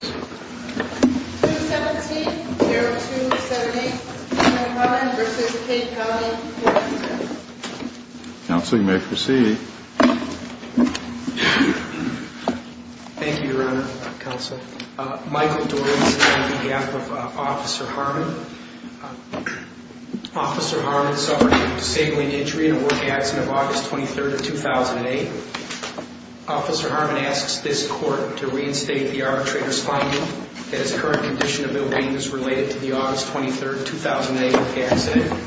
217-0278, Michael Dorris on behalf of Officer Harmon. Officer Harmon suffered a disabling injury in a work accident of August 23rd of 2008. Officer Harmon asks this court to reinstate the arbitrator's finding that his current condition of ill-being is related to the August 23rd, 2008 accident.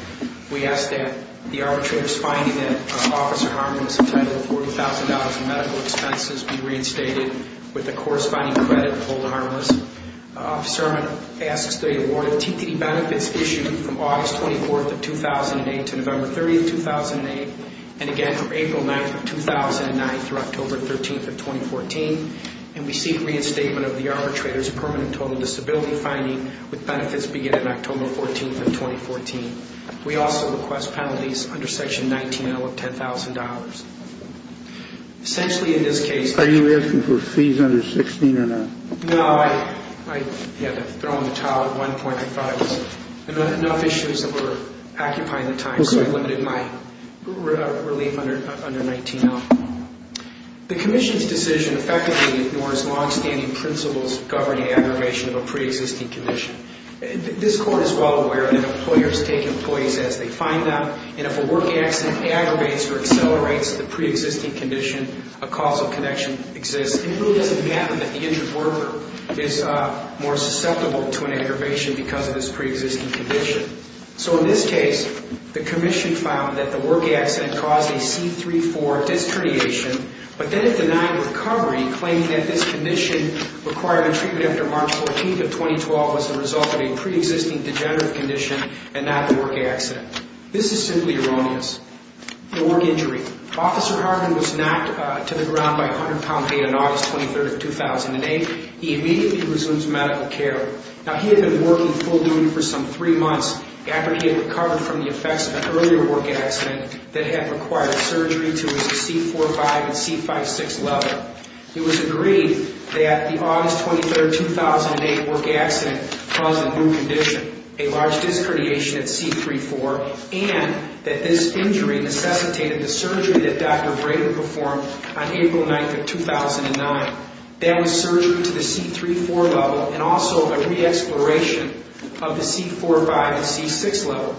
We ask that the arbitrator's finding that Officer Harmon is entitled to $40,000 in medical expenses be reinstated with the corresponding credit of Old Harmless. Officer Harmon asks that he awarded TPD benefits issued from August 24th of 2008 to November 30th, 2008 and again from April 9th of 2009 through October 13th of 2014. And we seek reinstatement of the arbitrator's permanent total disability finding with benefits beginning October 14th of 2014. We also request penalties under Section 19-0 of $10,000. Essentially in this case... Are you asking for fees under 16 or not? No, I had to throw in the towel at one point. I thought it was enough issues that were occupying the time, so I limited my relief under 19-0. The Commission's decision effectively ignores long-standing principles governing aggravation of a pre-existing condition. This court is well aware that employers take employees as they find them, and if a work accident aggravates or accelerates the pre-existing condition, a causal connection exists. It really doesn't happen that the injured worker is more susceptible to an aggravation because of this pre-existing condition. So in this case, the Commission found that the work accident caused a C-3-4 disc herniation, but then it denied recovery, claiming that this condition required a treatment after March 14th of 2012 as a result of a pre-existing degenerative condition and not a work accident. This is simply erroneous. The work injury. Officer Harvin was knocked to the ground by a 100-pound weight on August 23rd, 2008. He immediately resumes medical care. Now, he had been working full-time for some three months after he had recovered from the effects of an earlier work accident that had required surgery to his C-4-5 and C-5-6 level. It was agreed that the August 23rd, 2008 work accident caused a new condition, a large disc herniation at C-3-4, and that this injury necessitated the surgery that Dr. Brader performed on April 9th of 2009. That was surgery to the C-3-4 level and also a re-exploration of the C-4-5 and C-6 level.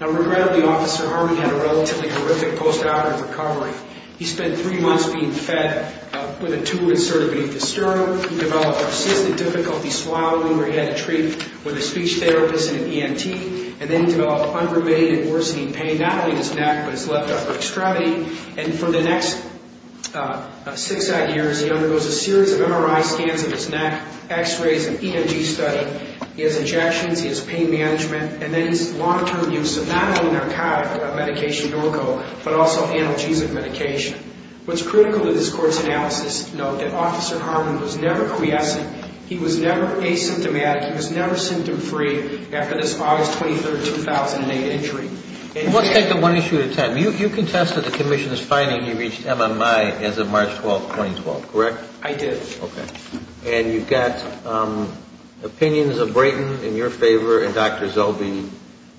Now, regrettably, Officer Harvin had a relatively horrific post-mortem recovery. He spent three months being fed with a tube inserted beneath his stomach. He developed persistent difficulty swallowing where he had to treat with a speech therapist and an ENT. And then he developed undermated and worsening pain, not only in his neck, but his left upper extremity. And for the next six odd years, he undergoes a series of MRI scans of his neck, x-rays and EMG study. He has injections, he has pain management, and then his long-term use of not only narcotic medication norco, but also analgesic medication. What's critical to this court's analysis is to note that Officer Harvin was never quiescent. He was never asymptomatic. He was never symptom-free after this August 23rd, 2008 injury. Let's take that one issue at a time. You contested the commission's finding he reached MMI as of March 12th, 2012, correct? I did. Okay. And you've got opinions of Brayton in your favor and Dr. Zelbe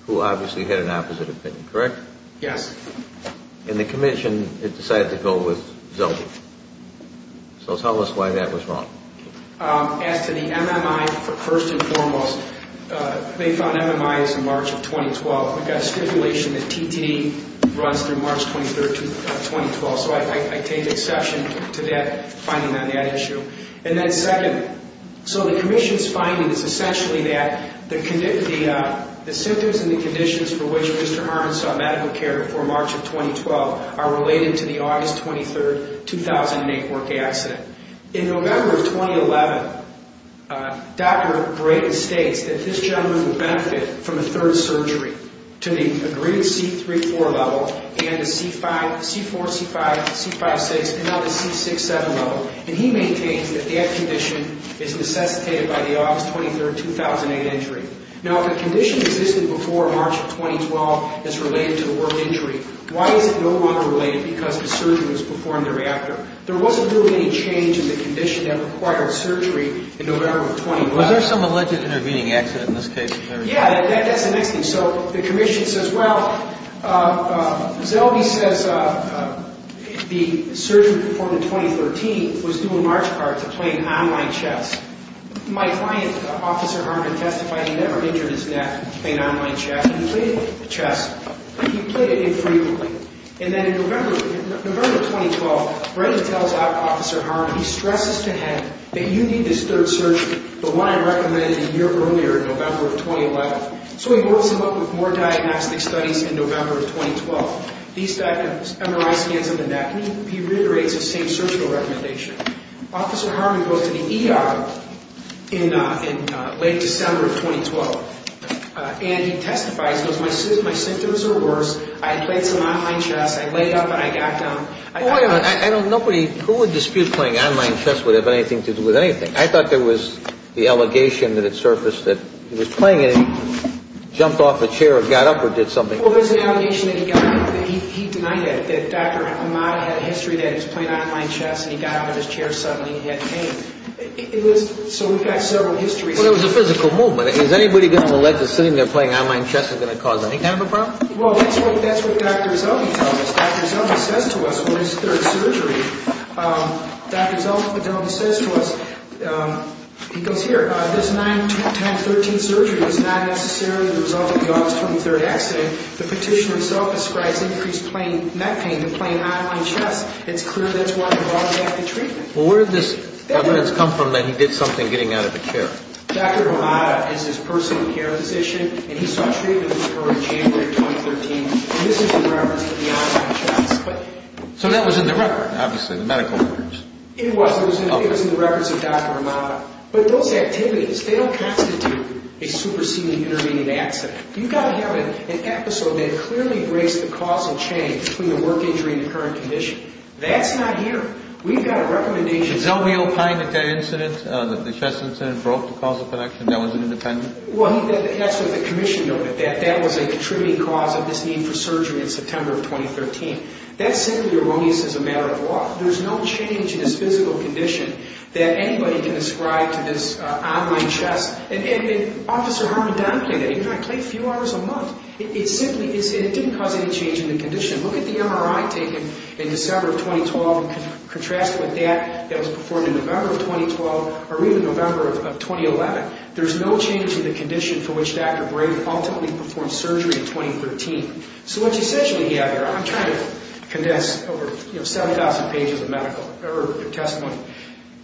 who obviously had an opposite opinion, correct? Yes. And the commission, it decided to go with Zelbe. So tell us why that was wrong. As to the MMI, first and foremost, they found MMI as of March of 2012. We've got a stipulation that TTD runs through March 23rd, 2012, so I take exception to that finding on that issue. And then second, so the commission's finding is essentially that the symptoms and the conditions for which Mr. Harvin saw medical care before March of 2012 are related to the August 23rd, 2008 work accident. In November of 2011, Dr. Brayton states that this gentleman would benefit from a third surgery to the agreed C-3-4 level and the C-4, C-5, C-5-6, and now the C-6-7 level. And he maintains that that condition is necessitated by the August 23rd, 2008 injury. Now, if a condition existed before March of 2012 that's related to the work injury, why is it no longer related because the surgery was performed thereafter? There wasn't really any change in the condition that required surgery in November of 2011. Was there some alleged intervening accident in this case? Yeah, that's the next thing. So the commission says, well, Zelbe says the surgery performed in 2013 was due in March part to playing online chess. My client, Officer Harvin, testified he never injured his neck playing online chess. He played it infrequently. And then in November of 2012, Brayton tells Officer Harvin, he stresses to him that you need this third surgery, the one I recommended a year earlier in November of 2011. So he rolls him up with more diagnostic studies in November of 2012. These MRI scans of the neck, he reiterates the same surgical recommendation. Officer Harvin goes to the ER in late December of 2012. And he testifies, he goes, my symptoms are worse. I played some online chess. I laid up and I got down. Wait a minute. Nobody, who would dispute playing online chess would have anything to do with anything? I thought there was the allegation that had surfaced that he was playing it and he jumped off a chair or got up or did something. Well, there's an allegation that he got up. He denied that, that Dr. Amada had a history that he was playing online chess and he got up out of his chair suddenly and he had pain. It was, so we've got several histories. Well, it was a physical movement. Is anybody going to elect to sit in there playing online chess is going to cause any kind of a problem? Well, that's what Dr. Zellwey tells us. Dr. Zellwey says to us, well, this third surgery. Dr. Zellwey says to us, he goes, here, this 9, 10, 13 surgery is not necessarily the result of the officer's 23rd accident. The petition itself ascribes increased neck pain to playing online chess. It's clear that's why we brought him back to treatment. Well, where did this evidence come from that he did something getting out of a chair? Dr. Amada is his personal care physician and he saw treatment with her in January of 2013. This is in reference to the online chess. So that was in the record, obviously, the medical records. It was. It was in the records of Dr. Amada. But those activities, they don't constitute a superseding intervening accident. You've got to have an episode that clearly breaks the causal chain between the work injury and the current condition. That's not here. We've got a recommendation. Did Zellwey opine that the chess incident broke the causal connection, that was an independent? Well, that's what the commission noted, that that was a contributing cause of this need for surgery in September of 2013. That's simply erroneous as a matter of law. There's no change in his physical condition that anybody can ascribe to this online chess. And Officer Harmon-Duncan, even though I played a few hours a month, it simply didn't cause any change in the condition. Look at the MRI taken in December of 2012 and contrast it with that that was performed in November of 2012 or even November of 2011. There's no change in the condition for which Dr. Brady ultimately performed surgery in 2013. So what you essentially have here, I'm trying to condense over 7,000 pages of medical testimony.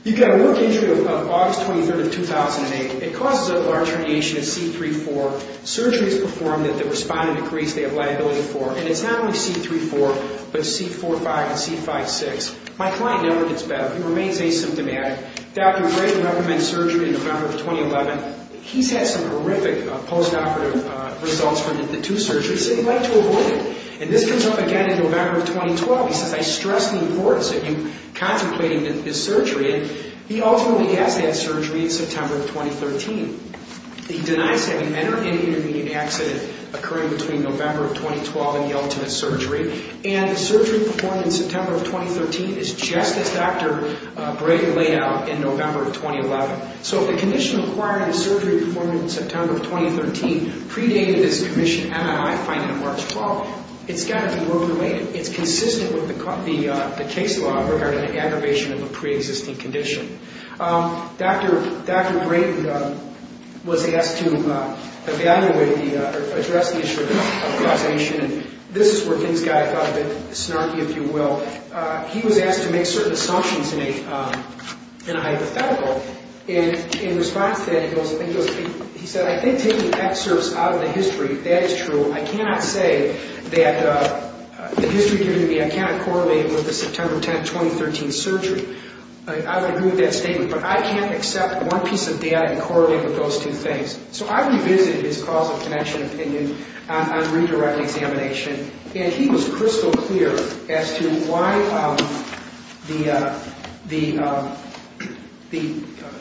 You've got a work injury of August 23rd of 2008. It causes a large herniation of C3-4. Surgery is performed and the respondent agrees they have liability for. And it's not only C3-4 but C4-5 and C5-6. My client never gets better. He remains asymptomatic. Dr. Brady recommends surgery in November of 2011. He's had some horrific post-operative results from the two surgeries. He said he'd like to avoid it. And this comes up again in November of 2012. He says, I stress the importance of you contemplating this surgery. And he ultimately has had surgery in September of 2013. He denies having entered any intervening accident occurring between November of 2012 and the ultimate surgery. And the surgery performed in September of 2013 is just as Dr. Brady laid out in November of 2011. So if the condition requiring the surgery performed in September of 2013 predated his commissioned MRI finding of March 12th, it's got to be more related. It's consistent with the case law regarding an aggravation of a preexisting condition. Dr. Brady was asked to evaluate or address the issue of causation. And this is where things got a little bit snarky, if you will. He was asked to make certain assumptions in a hypothetical. And in response to that, he said, I think taking excerpts out of the history, that is true. I cannot say that the history giving me, I cannot correlate with the September 10th, 2013 surgery. I would agree with that statement. But I can't accept one piece of data and correlate with those two things. So I revisited his causal connection opinion on redirect examination. And he was crystal clear as to why the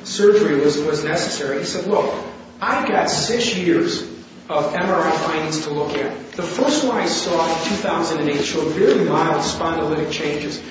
surgery was necessary. He said, look, I've got six years of MRI findings to look at. The first one I saw in 2008 showed very mild spondylitic changes.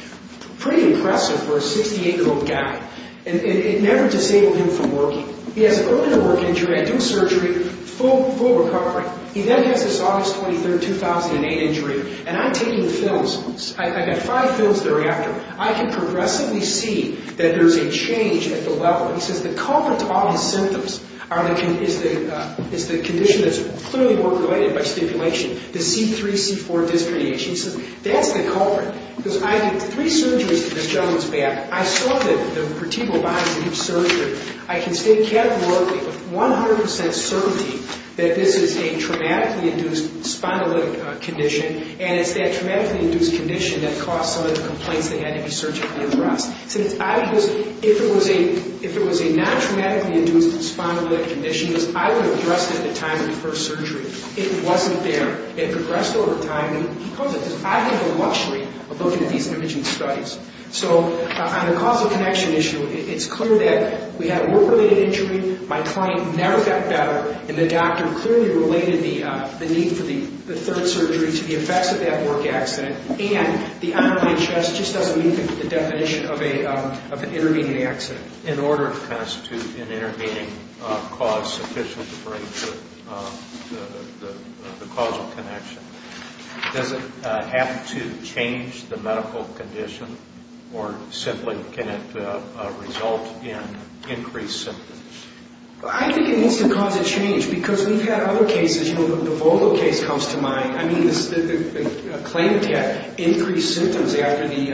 Pretty impressive for a 68-year-old guy. And it never disabled him from working. He has an earlier work injury. I do surgery. Full recovery. He then has this August 23rd, 2008 injury. And I'm taking the films. I've got five films thereafter. I can progressively see that there's a change at the level. He says the culprit to all these symptoms is the condition that's clearly more related by stipulation, the C3-C4 disc herniation. He says that's the culprit. Because I did three surgeries to this gentleman's back. I saw that the vertebral binds in each surgery. I can state categorically with 100% certainty that this is a traumatically induced spondylitic condition. And it's that traumatically induced condition that caused some of the complaints they had to be surgically addressed. If it was a non-traumatically induced spondylitic condition, I would have addressed it at the time of the first surgery. It wasn't there. It progressed over time. And he calls it a luxury of looking at these individual studies. So on the causal connection issue, it's clear that we had a work-related injury. My client never got better. And the doctor clearly related the need for the third surgery to the effects of that work accident. And the underlying stress just doesn't meet the definition of an intervening accident. In order to constitute an intervening cause sufficient to break the causal connection, does it have to change the medical condition or simply can it result in increased symptoms? I think it needs to cause a change because we've had other cases. You know, the Volvo case comes to mind. I mean, the claimant had increased symptoms after the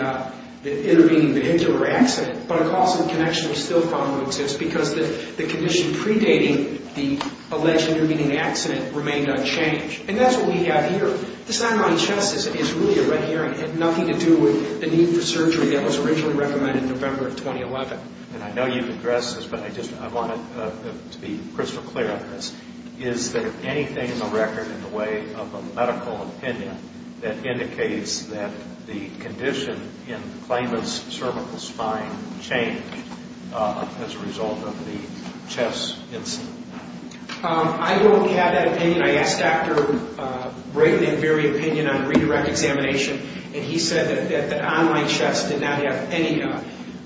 intervening vehicular accident, but a causal connection was still found to exist because the condition predating the alleged intervening accident remained unchanged. And that's what we have here. This underlying stress is really a red herring. It had nothing to do with the need for surgery that was originally recommended in November of 2011. And I know you've addressed this, but I want to be crystal clear on this. Is there anything in the record, in the way of a medical opinion, that indicates that the condition in the claimant's cervical spine changed as a result of the chest incident? I don't have that opinion. I asked Dr. Brayden to give me an opinion on redirect examination, and he said that the online chest did not have any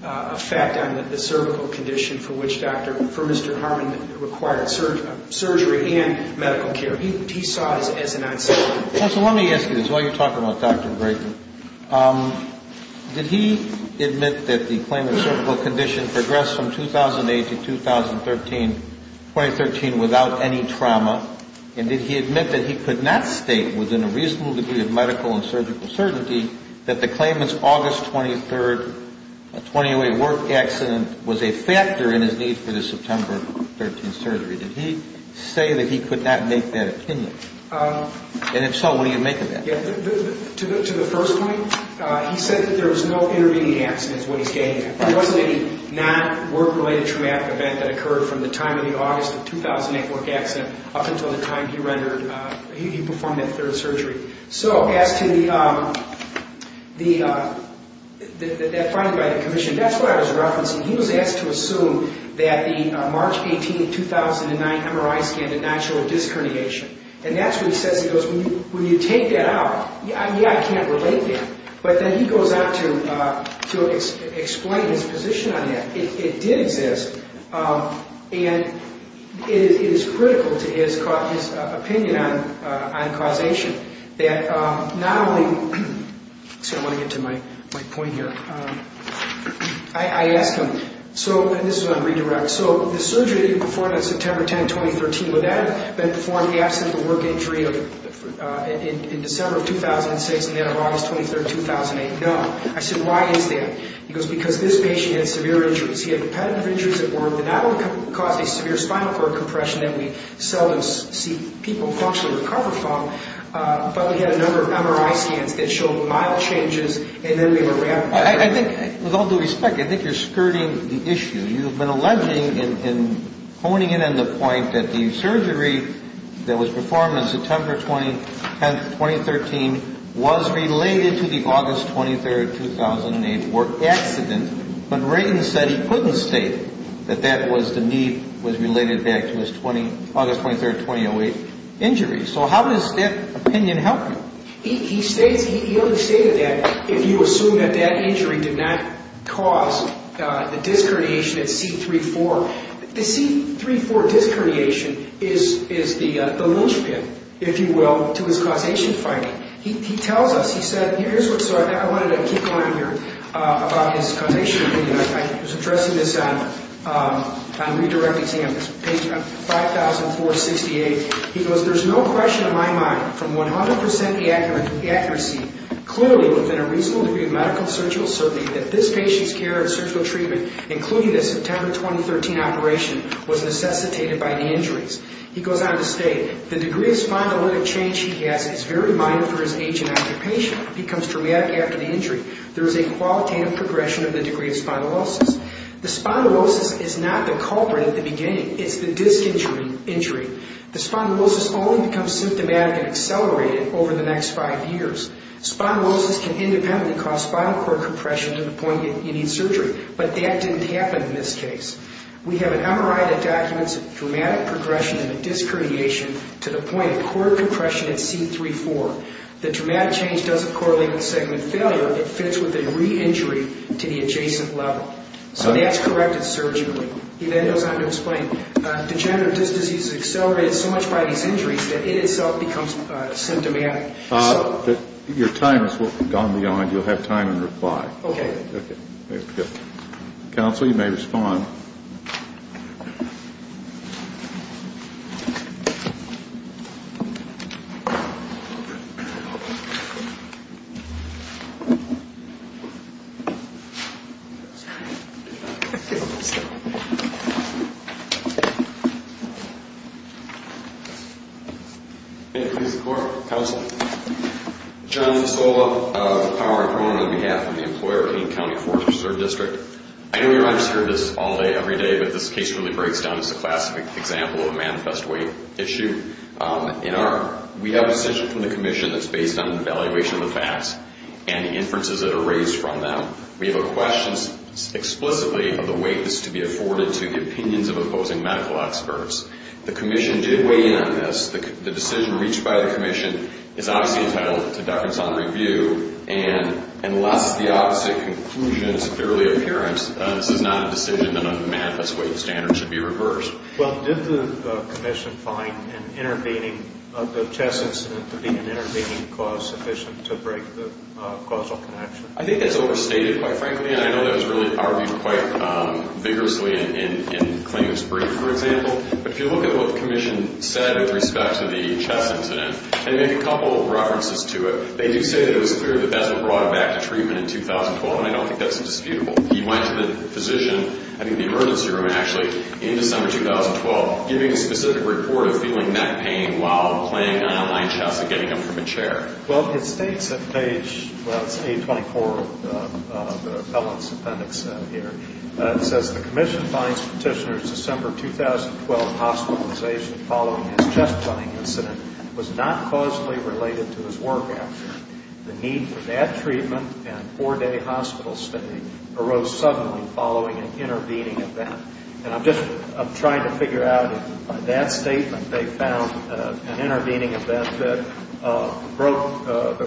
effect on the cervical condition for Mr. Harmon that required surgery and medical care. He saw it as an accident. Well, so let me ask you this. While you're talking about Dr. Brayden, did he admit that the claimant's cervical condition progressed from 2008 to 2013 without any trauma, and did he admit that he could not state within a reasonable degree of medical and surgical certainty that the claimant's August 23rd 2008 work accident was a factor in his need for the September 13th surgery? Did he say that he could not make that opinion? And if so, what do you make of that? To the first point, he said that there was no intervening accident is what he's getting at. It wasn't a non-work-related traumatic event that occurred from the time of the August 2008 work accident up until the time he rendered, he performed that third surgery. So as to the finding by the commission, that's what I was referencing. He was asked to assume that the March 18, 2009 MRI scan did not show disc herniation, and that's what he says. He goes, when you take that out, yeah, I can't relate to that. But then he goes on to explain his position on that. It did exist, and it is critical to his opinion on causation. I want to get to my point here. I asked him, and this is on redirect, so the surgery that he performed on September 10, 2013, would that have been performed in the absence of a work injury in December of 2006 and then on August 23rd 2008? No. I said, why is that? He goes, because this patient had severe injuries. He had repetitive injuries at work that not only caused a severe spinal cord compression that we seldom see people actually recover from, but we had a number of MRI scans that showed mild changes, and then we were ramped up. I think, with all due respect, I think you're skirting the issue. You've been alleging and honing in on the point that the surgery that was performed on September 10, 2013, was related to the August 23, 2008 work accident, but Wrayton said he couldn't state that that was the knee was related back to his August 23, 2008 injury. So how does that opinion help him? He understated that. If you assume that that injury did not cause the disc herniation at C3-4, the C3-4 disc herniation is the linchpin, if you will, to his causation finding. He tells us, he said, here's what's up. I wanted to keep going here about his causation opinion. I was addressing this on redirect exam, page 5468. He goes, there's no question in my mind, from 100% accuracy, clearly within a reasonable degree of medical surgical certainty, that this patient's care and surgical treatment, including the September 2013 operation, was necessitated by the injuries. He goes on to state, the degree of spondylotic change he has is very minor for his age and occupation. It becomes dramatic after the injury. There is a qualitative progression of the degree of spondylosis. The spondylosis is not the culprit at the beginning. It's the disc injury. The spondylosis only becomes symptomatic and accelerated over the next five years. Spondylosis can independently cause spinal cord compression to the point that you need surgery, but that didn't happen in this case. We have an MRI that documents dramatic progression in the disc herniation to the point of cord compression at C3-4. The dramatic change doesn't correlate with segment failure. It fits with a re-injury to the adjacent level. So that's corrected surgically. He then goes on to explain, degenerative disc disease is accelerated so much by these injuries that it itself becomes symptomatic. Your time has gone beyond. You'll have time in reply. Okay. Counsel, you may respond. May it please the Court. Counsel. John Fasola of the Power and Promotion on behalf of the Employer of King County Fourth Reserve District. I know you're not used to hearing this all day every day, but this case really breaks down as a classic example of a manifest weight issue. We have a decision from the commission that's based on the evaluation of the facts and the inferences that are raised from them. We have a question explicitly of the weight that's to be afforded to the opinions of opposing medical experts. The commission did weigh in on this. The decision reached by the commission is obviously entitled to deference on review, and unless the opposite conclusion is clearly apparent, this is not a decision that on the manifest weight standard should be reversed. Well, did the commission find an intervening, the chest incident to be an intervening cause sufficient to break the causal connection? I think that's overstated, quite frankly, and I know that was really argued quite vigorously in claims brief, for example. But if you look at what the commission said with respect to the chest incident and make a couple of references to it, they do say that it was clear that that's what brought him back to treatment in 2012, and I don't think that's disputable. He went to the physician, I think the emergency room actually, in December 2012, giving a specific report of feeling neck pain while playing an online chess and getting him from a chair. Well, it states at page, well, it's page 24 of the appellant's appendix here. It says the commission finds Petitioner's December 2012 hospitalization following his chest running incident was not causally related to his work after. The need for that treatment and four-day hospital stay arose suddenly following an intervening event. And I'm just trying to figure out if by that statement they found an intervening event I don't think the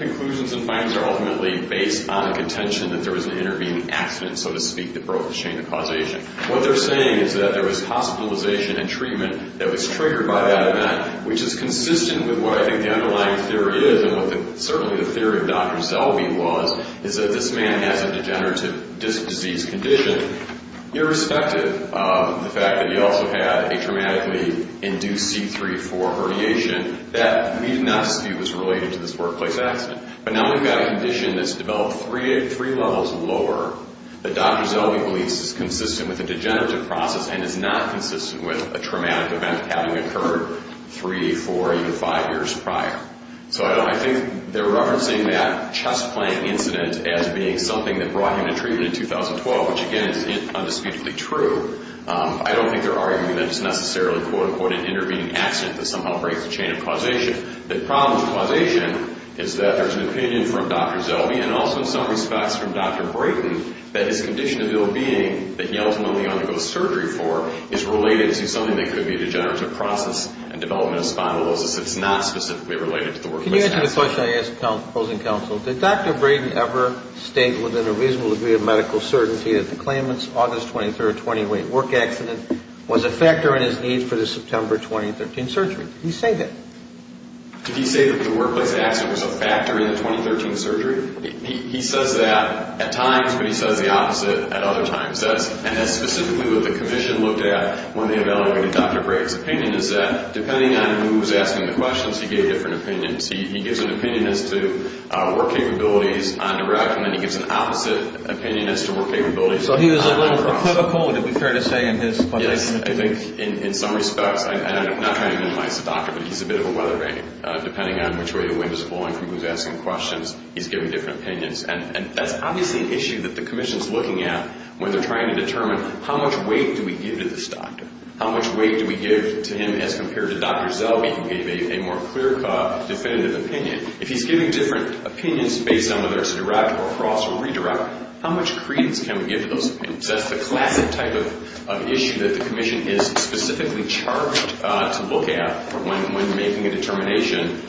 conclusions and findings are ultimately based on a contention that there was an intervening accident, so to speak, that broke the chain of causation. What they're saying is that there was hospitalization and treatment that was triggered by that event, which is consistent with what I think the underlying theory is and what certainly the theory of Dr. Selby was, is that this man has a degenerative disc disease condition, irrespective of the fact that he also had a traumatically induced C3-4 herniation. That need not be related to this workplace accident. But now we've got a condition that's developed three levels lower that Dr. Selby believes is consistent with a degenerative process and is not consistent with a traumatic event having occurred three, four, even five years prior. So I think they're referencing that chest plant incident as being something that brought him to treatment in 2012, which, again, is indisputably true. I don't think they're arguing that it's necessarily, quote, unquote, an intervening accident that somehow breaks the chain of causation. The problem with causation is that there's an opinion from Dr. Selby and also in some respects from Dr. Braden that his condition of ill-being that he ultimately undergoes surgery for is related to something that could be a degenerative process and development of spondylosis that's not specifically related to the workplace accident. Can you answer the question I asked the proposing counsel? Did Dr. Braden ever state within a reasonable degree of medical certainty that the claimant's August 23, 2008 work accident was a factor in his need for the September 2013 surgery? Did he say that? Did he say that the workplace accident was a factor in the 2013 surgery? He says that at times, but he says the opposite at other times. And that's specifically what the commission looked at when they evaluated Dr. Braden's opinion is that depending on who was asking the questions, he gave different opinions. He gives an opinion as to work capabilities on direct and then he gives an opposite opinion as to work capabilities on cross. So he was a little hypocritical, to be fair to say, in his question. Yes, I think in some respects. I'm not trying to minimize the doctor, but he's a bit of a weatherman. Depending on which way the wind is blowing from who's asking questions, he's giving different opinions. And that's obviously an issue that the commission's looking at when they're trying to determine how much weight do we give to this doctor? How much weight do we give to him as compared to Dr. Zellweger who gave a more clear cut definitive opinion? If he's giving different opinions based on whether it's direct or cross or redirect, how much credence can we give to those opinions? That's the classic type of issue that the commission is specifically charged to look at when making a determination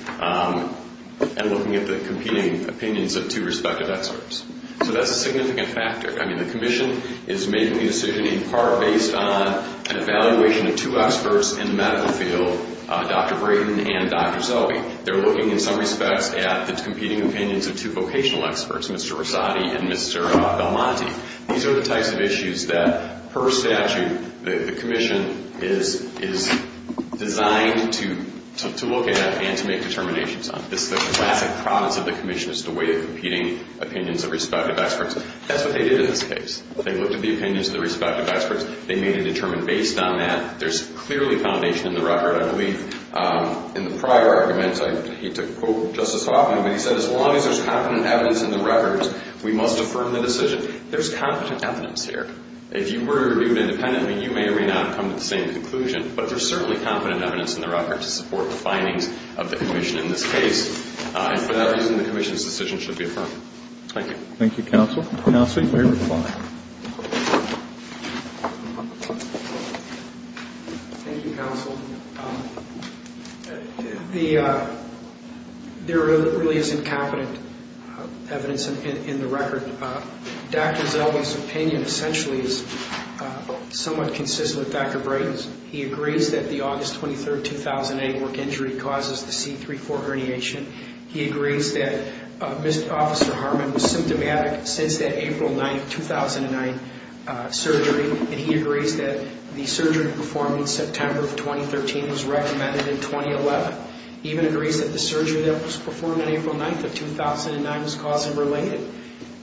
and looking at the competing opinions of two respective experts. So that's a significant factor. I mean, the commission is making the decision in part based on an evaluation of two experts in the medical field, Dr. Braden and Dr. Zellweger. They're looking in some respects at the competing opinions of two vocational experts, Mr. Rosati and Mr. Belmonte. These are the types of issues that per statute the commission is designed to look at and to make determinations on. This is the classic promise of the commission is to weigh the competing opinions of respective experts. That's what they did in this case. They looked at the opinions of the respective experts. They made a determination based on that. There's clearly foundation in the record. I believe in the prior arguments, I hate to quote Justice Hoffman, but he said as long as there's competent evidence in the record, we must affirm the decision. There's competent evidence here. If you were to review it independently, you may or may not come to the same conclusion, but there's certainly competent evidence in the record to support the findings of the commission in this case. And for that reason, the commission's decision should be affirmed. Thank you. Thank you, Counsel. Counsel, your reply. Thank you, Counsel. There really is incompetent evidence in the record. Dr. Zellwey's opinion essentially is somewhat consistent with Dr. Brighton's. He agrees that the August 23, 2008 work injury causes the C3-4 herniation. He agrees that Mr. Officer Harmon was symptomatic since that April 9, 2009 surgery, and he agrees that the surgery performed in September of 2013 was recommended in 2011. He even agrees that the surgery that was performed on April 9th of 2009 was cause and related.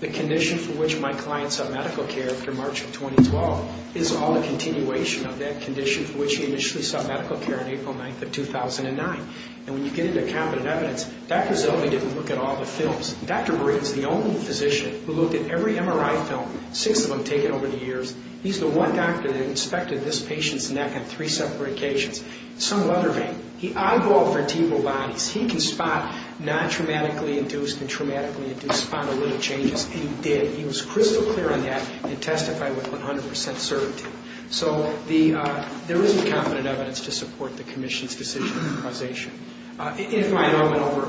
The condition for which my client sought medical care after March of 2012 is called a continuation of that condition for which he initially sought medical care on April 9th of 2009. And when you get into competent evidence, Dr. Zellwey didn't look at all the films. Dr. Brighton's the only physician who looked at every MRI film, six of them taken over the years. He's the one doctor that inspected this patient's neck on three separate occasions. Some other men. He eyeballed vertebral bodies. He can spot non-traumatically induced and traumatically induced spondylitic changes, and he did. He was crystal clear on that and testified with 100 percent certainty. So there is incompetent evidence to support the commission's decision on causation. If my hour went over,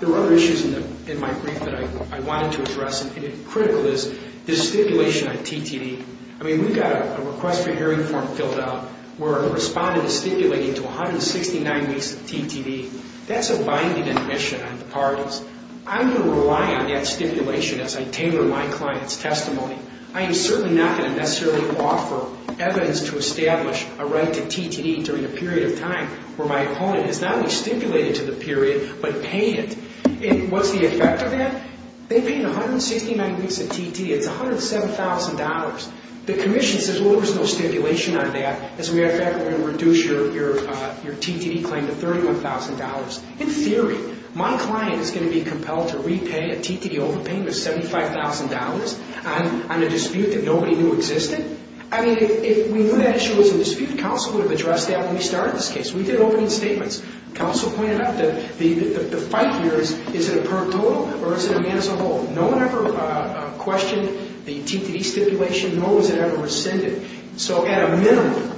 there were other issues in my brief that I wanted to address, and critical is the stipulation on TTD. I mean, we've got a request for hearing form filled out where a respondent is stipulated to 169 weeks of TTD. That's a binding admission on the parties. I'm going to rely on that stipulation as I tamper my client's testimony. I am certainly not going to necessarily offer evidence to establish a right to TTD during a period of time where my opponent has not only stipulated to the period but paid it. What's the effect of that? They paid 169 weeks of TTD. It's $107,000. The commission says, well, there's no stipulation on that. As a matter of fact, we're going to reduce your TTD claim to $31,000. In theory, my client is going to be compelled to repay a TTD overpayment of $75,000 on a dispute that nobody knew existed. I mean, if we knew that issue was a dispute, counsel would have addressed that when we started this case. We did opening statements. Counsel pointed out that the fight here is, is it a per total or is it a man-as-a-whole? No one ever questioned the TTD stipulation, nor was it ever rescinded. So at a minimum,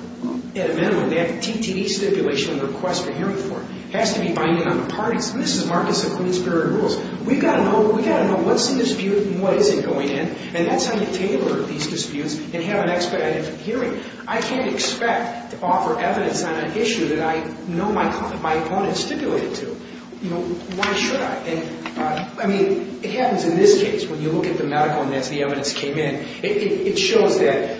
at a minimum, that TTD stipulation on the request for hearing form has to be binding on the parties. And this is Marcus and Queensborough rules. We've got to know what's in dispute and what isn't going in, and that's how you tailor these disputes and have an expedited hearing. I can't expect to offer evidence on an issue that I know my opponent stipulated to. You know, why should I? I mean, it happens in this case when you look at the medical and as the evidence came in, it shows that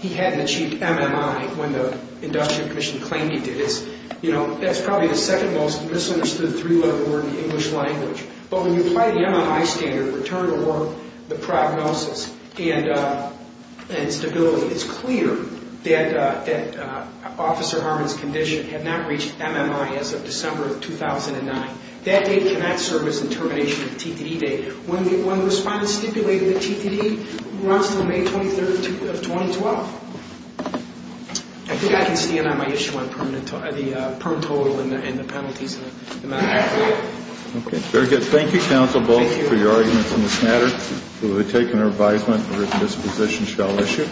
he hadn't achieved MMI when the industrial commission claimed he did. It's, you know, that's probably the second most misunderstood three-letter word in the English language. But when you apply the MMI standard, return to work, the prognosis, and stability, it's clear that Officer Harmon's condition had not reached MMI as of December of 2009. That date cannot serve as the termination of the TTD date. When the respondent stipulated the TTD runs until May 23rd of 2012. I think I can stand on my issue on the per total and the penalties and the amount of equity. Okay, very good. Thank you, counsel, both for your arguments in this matter. We will take an advisement that this position shall issue.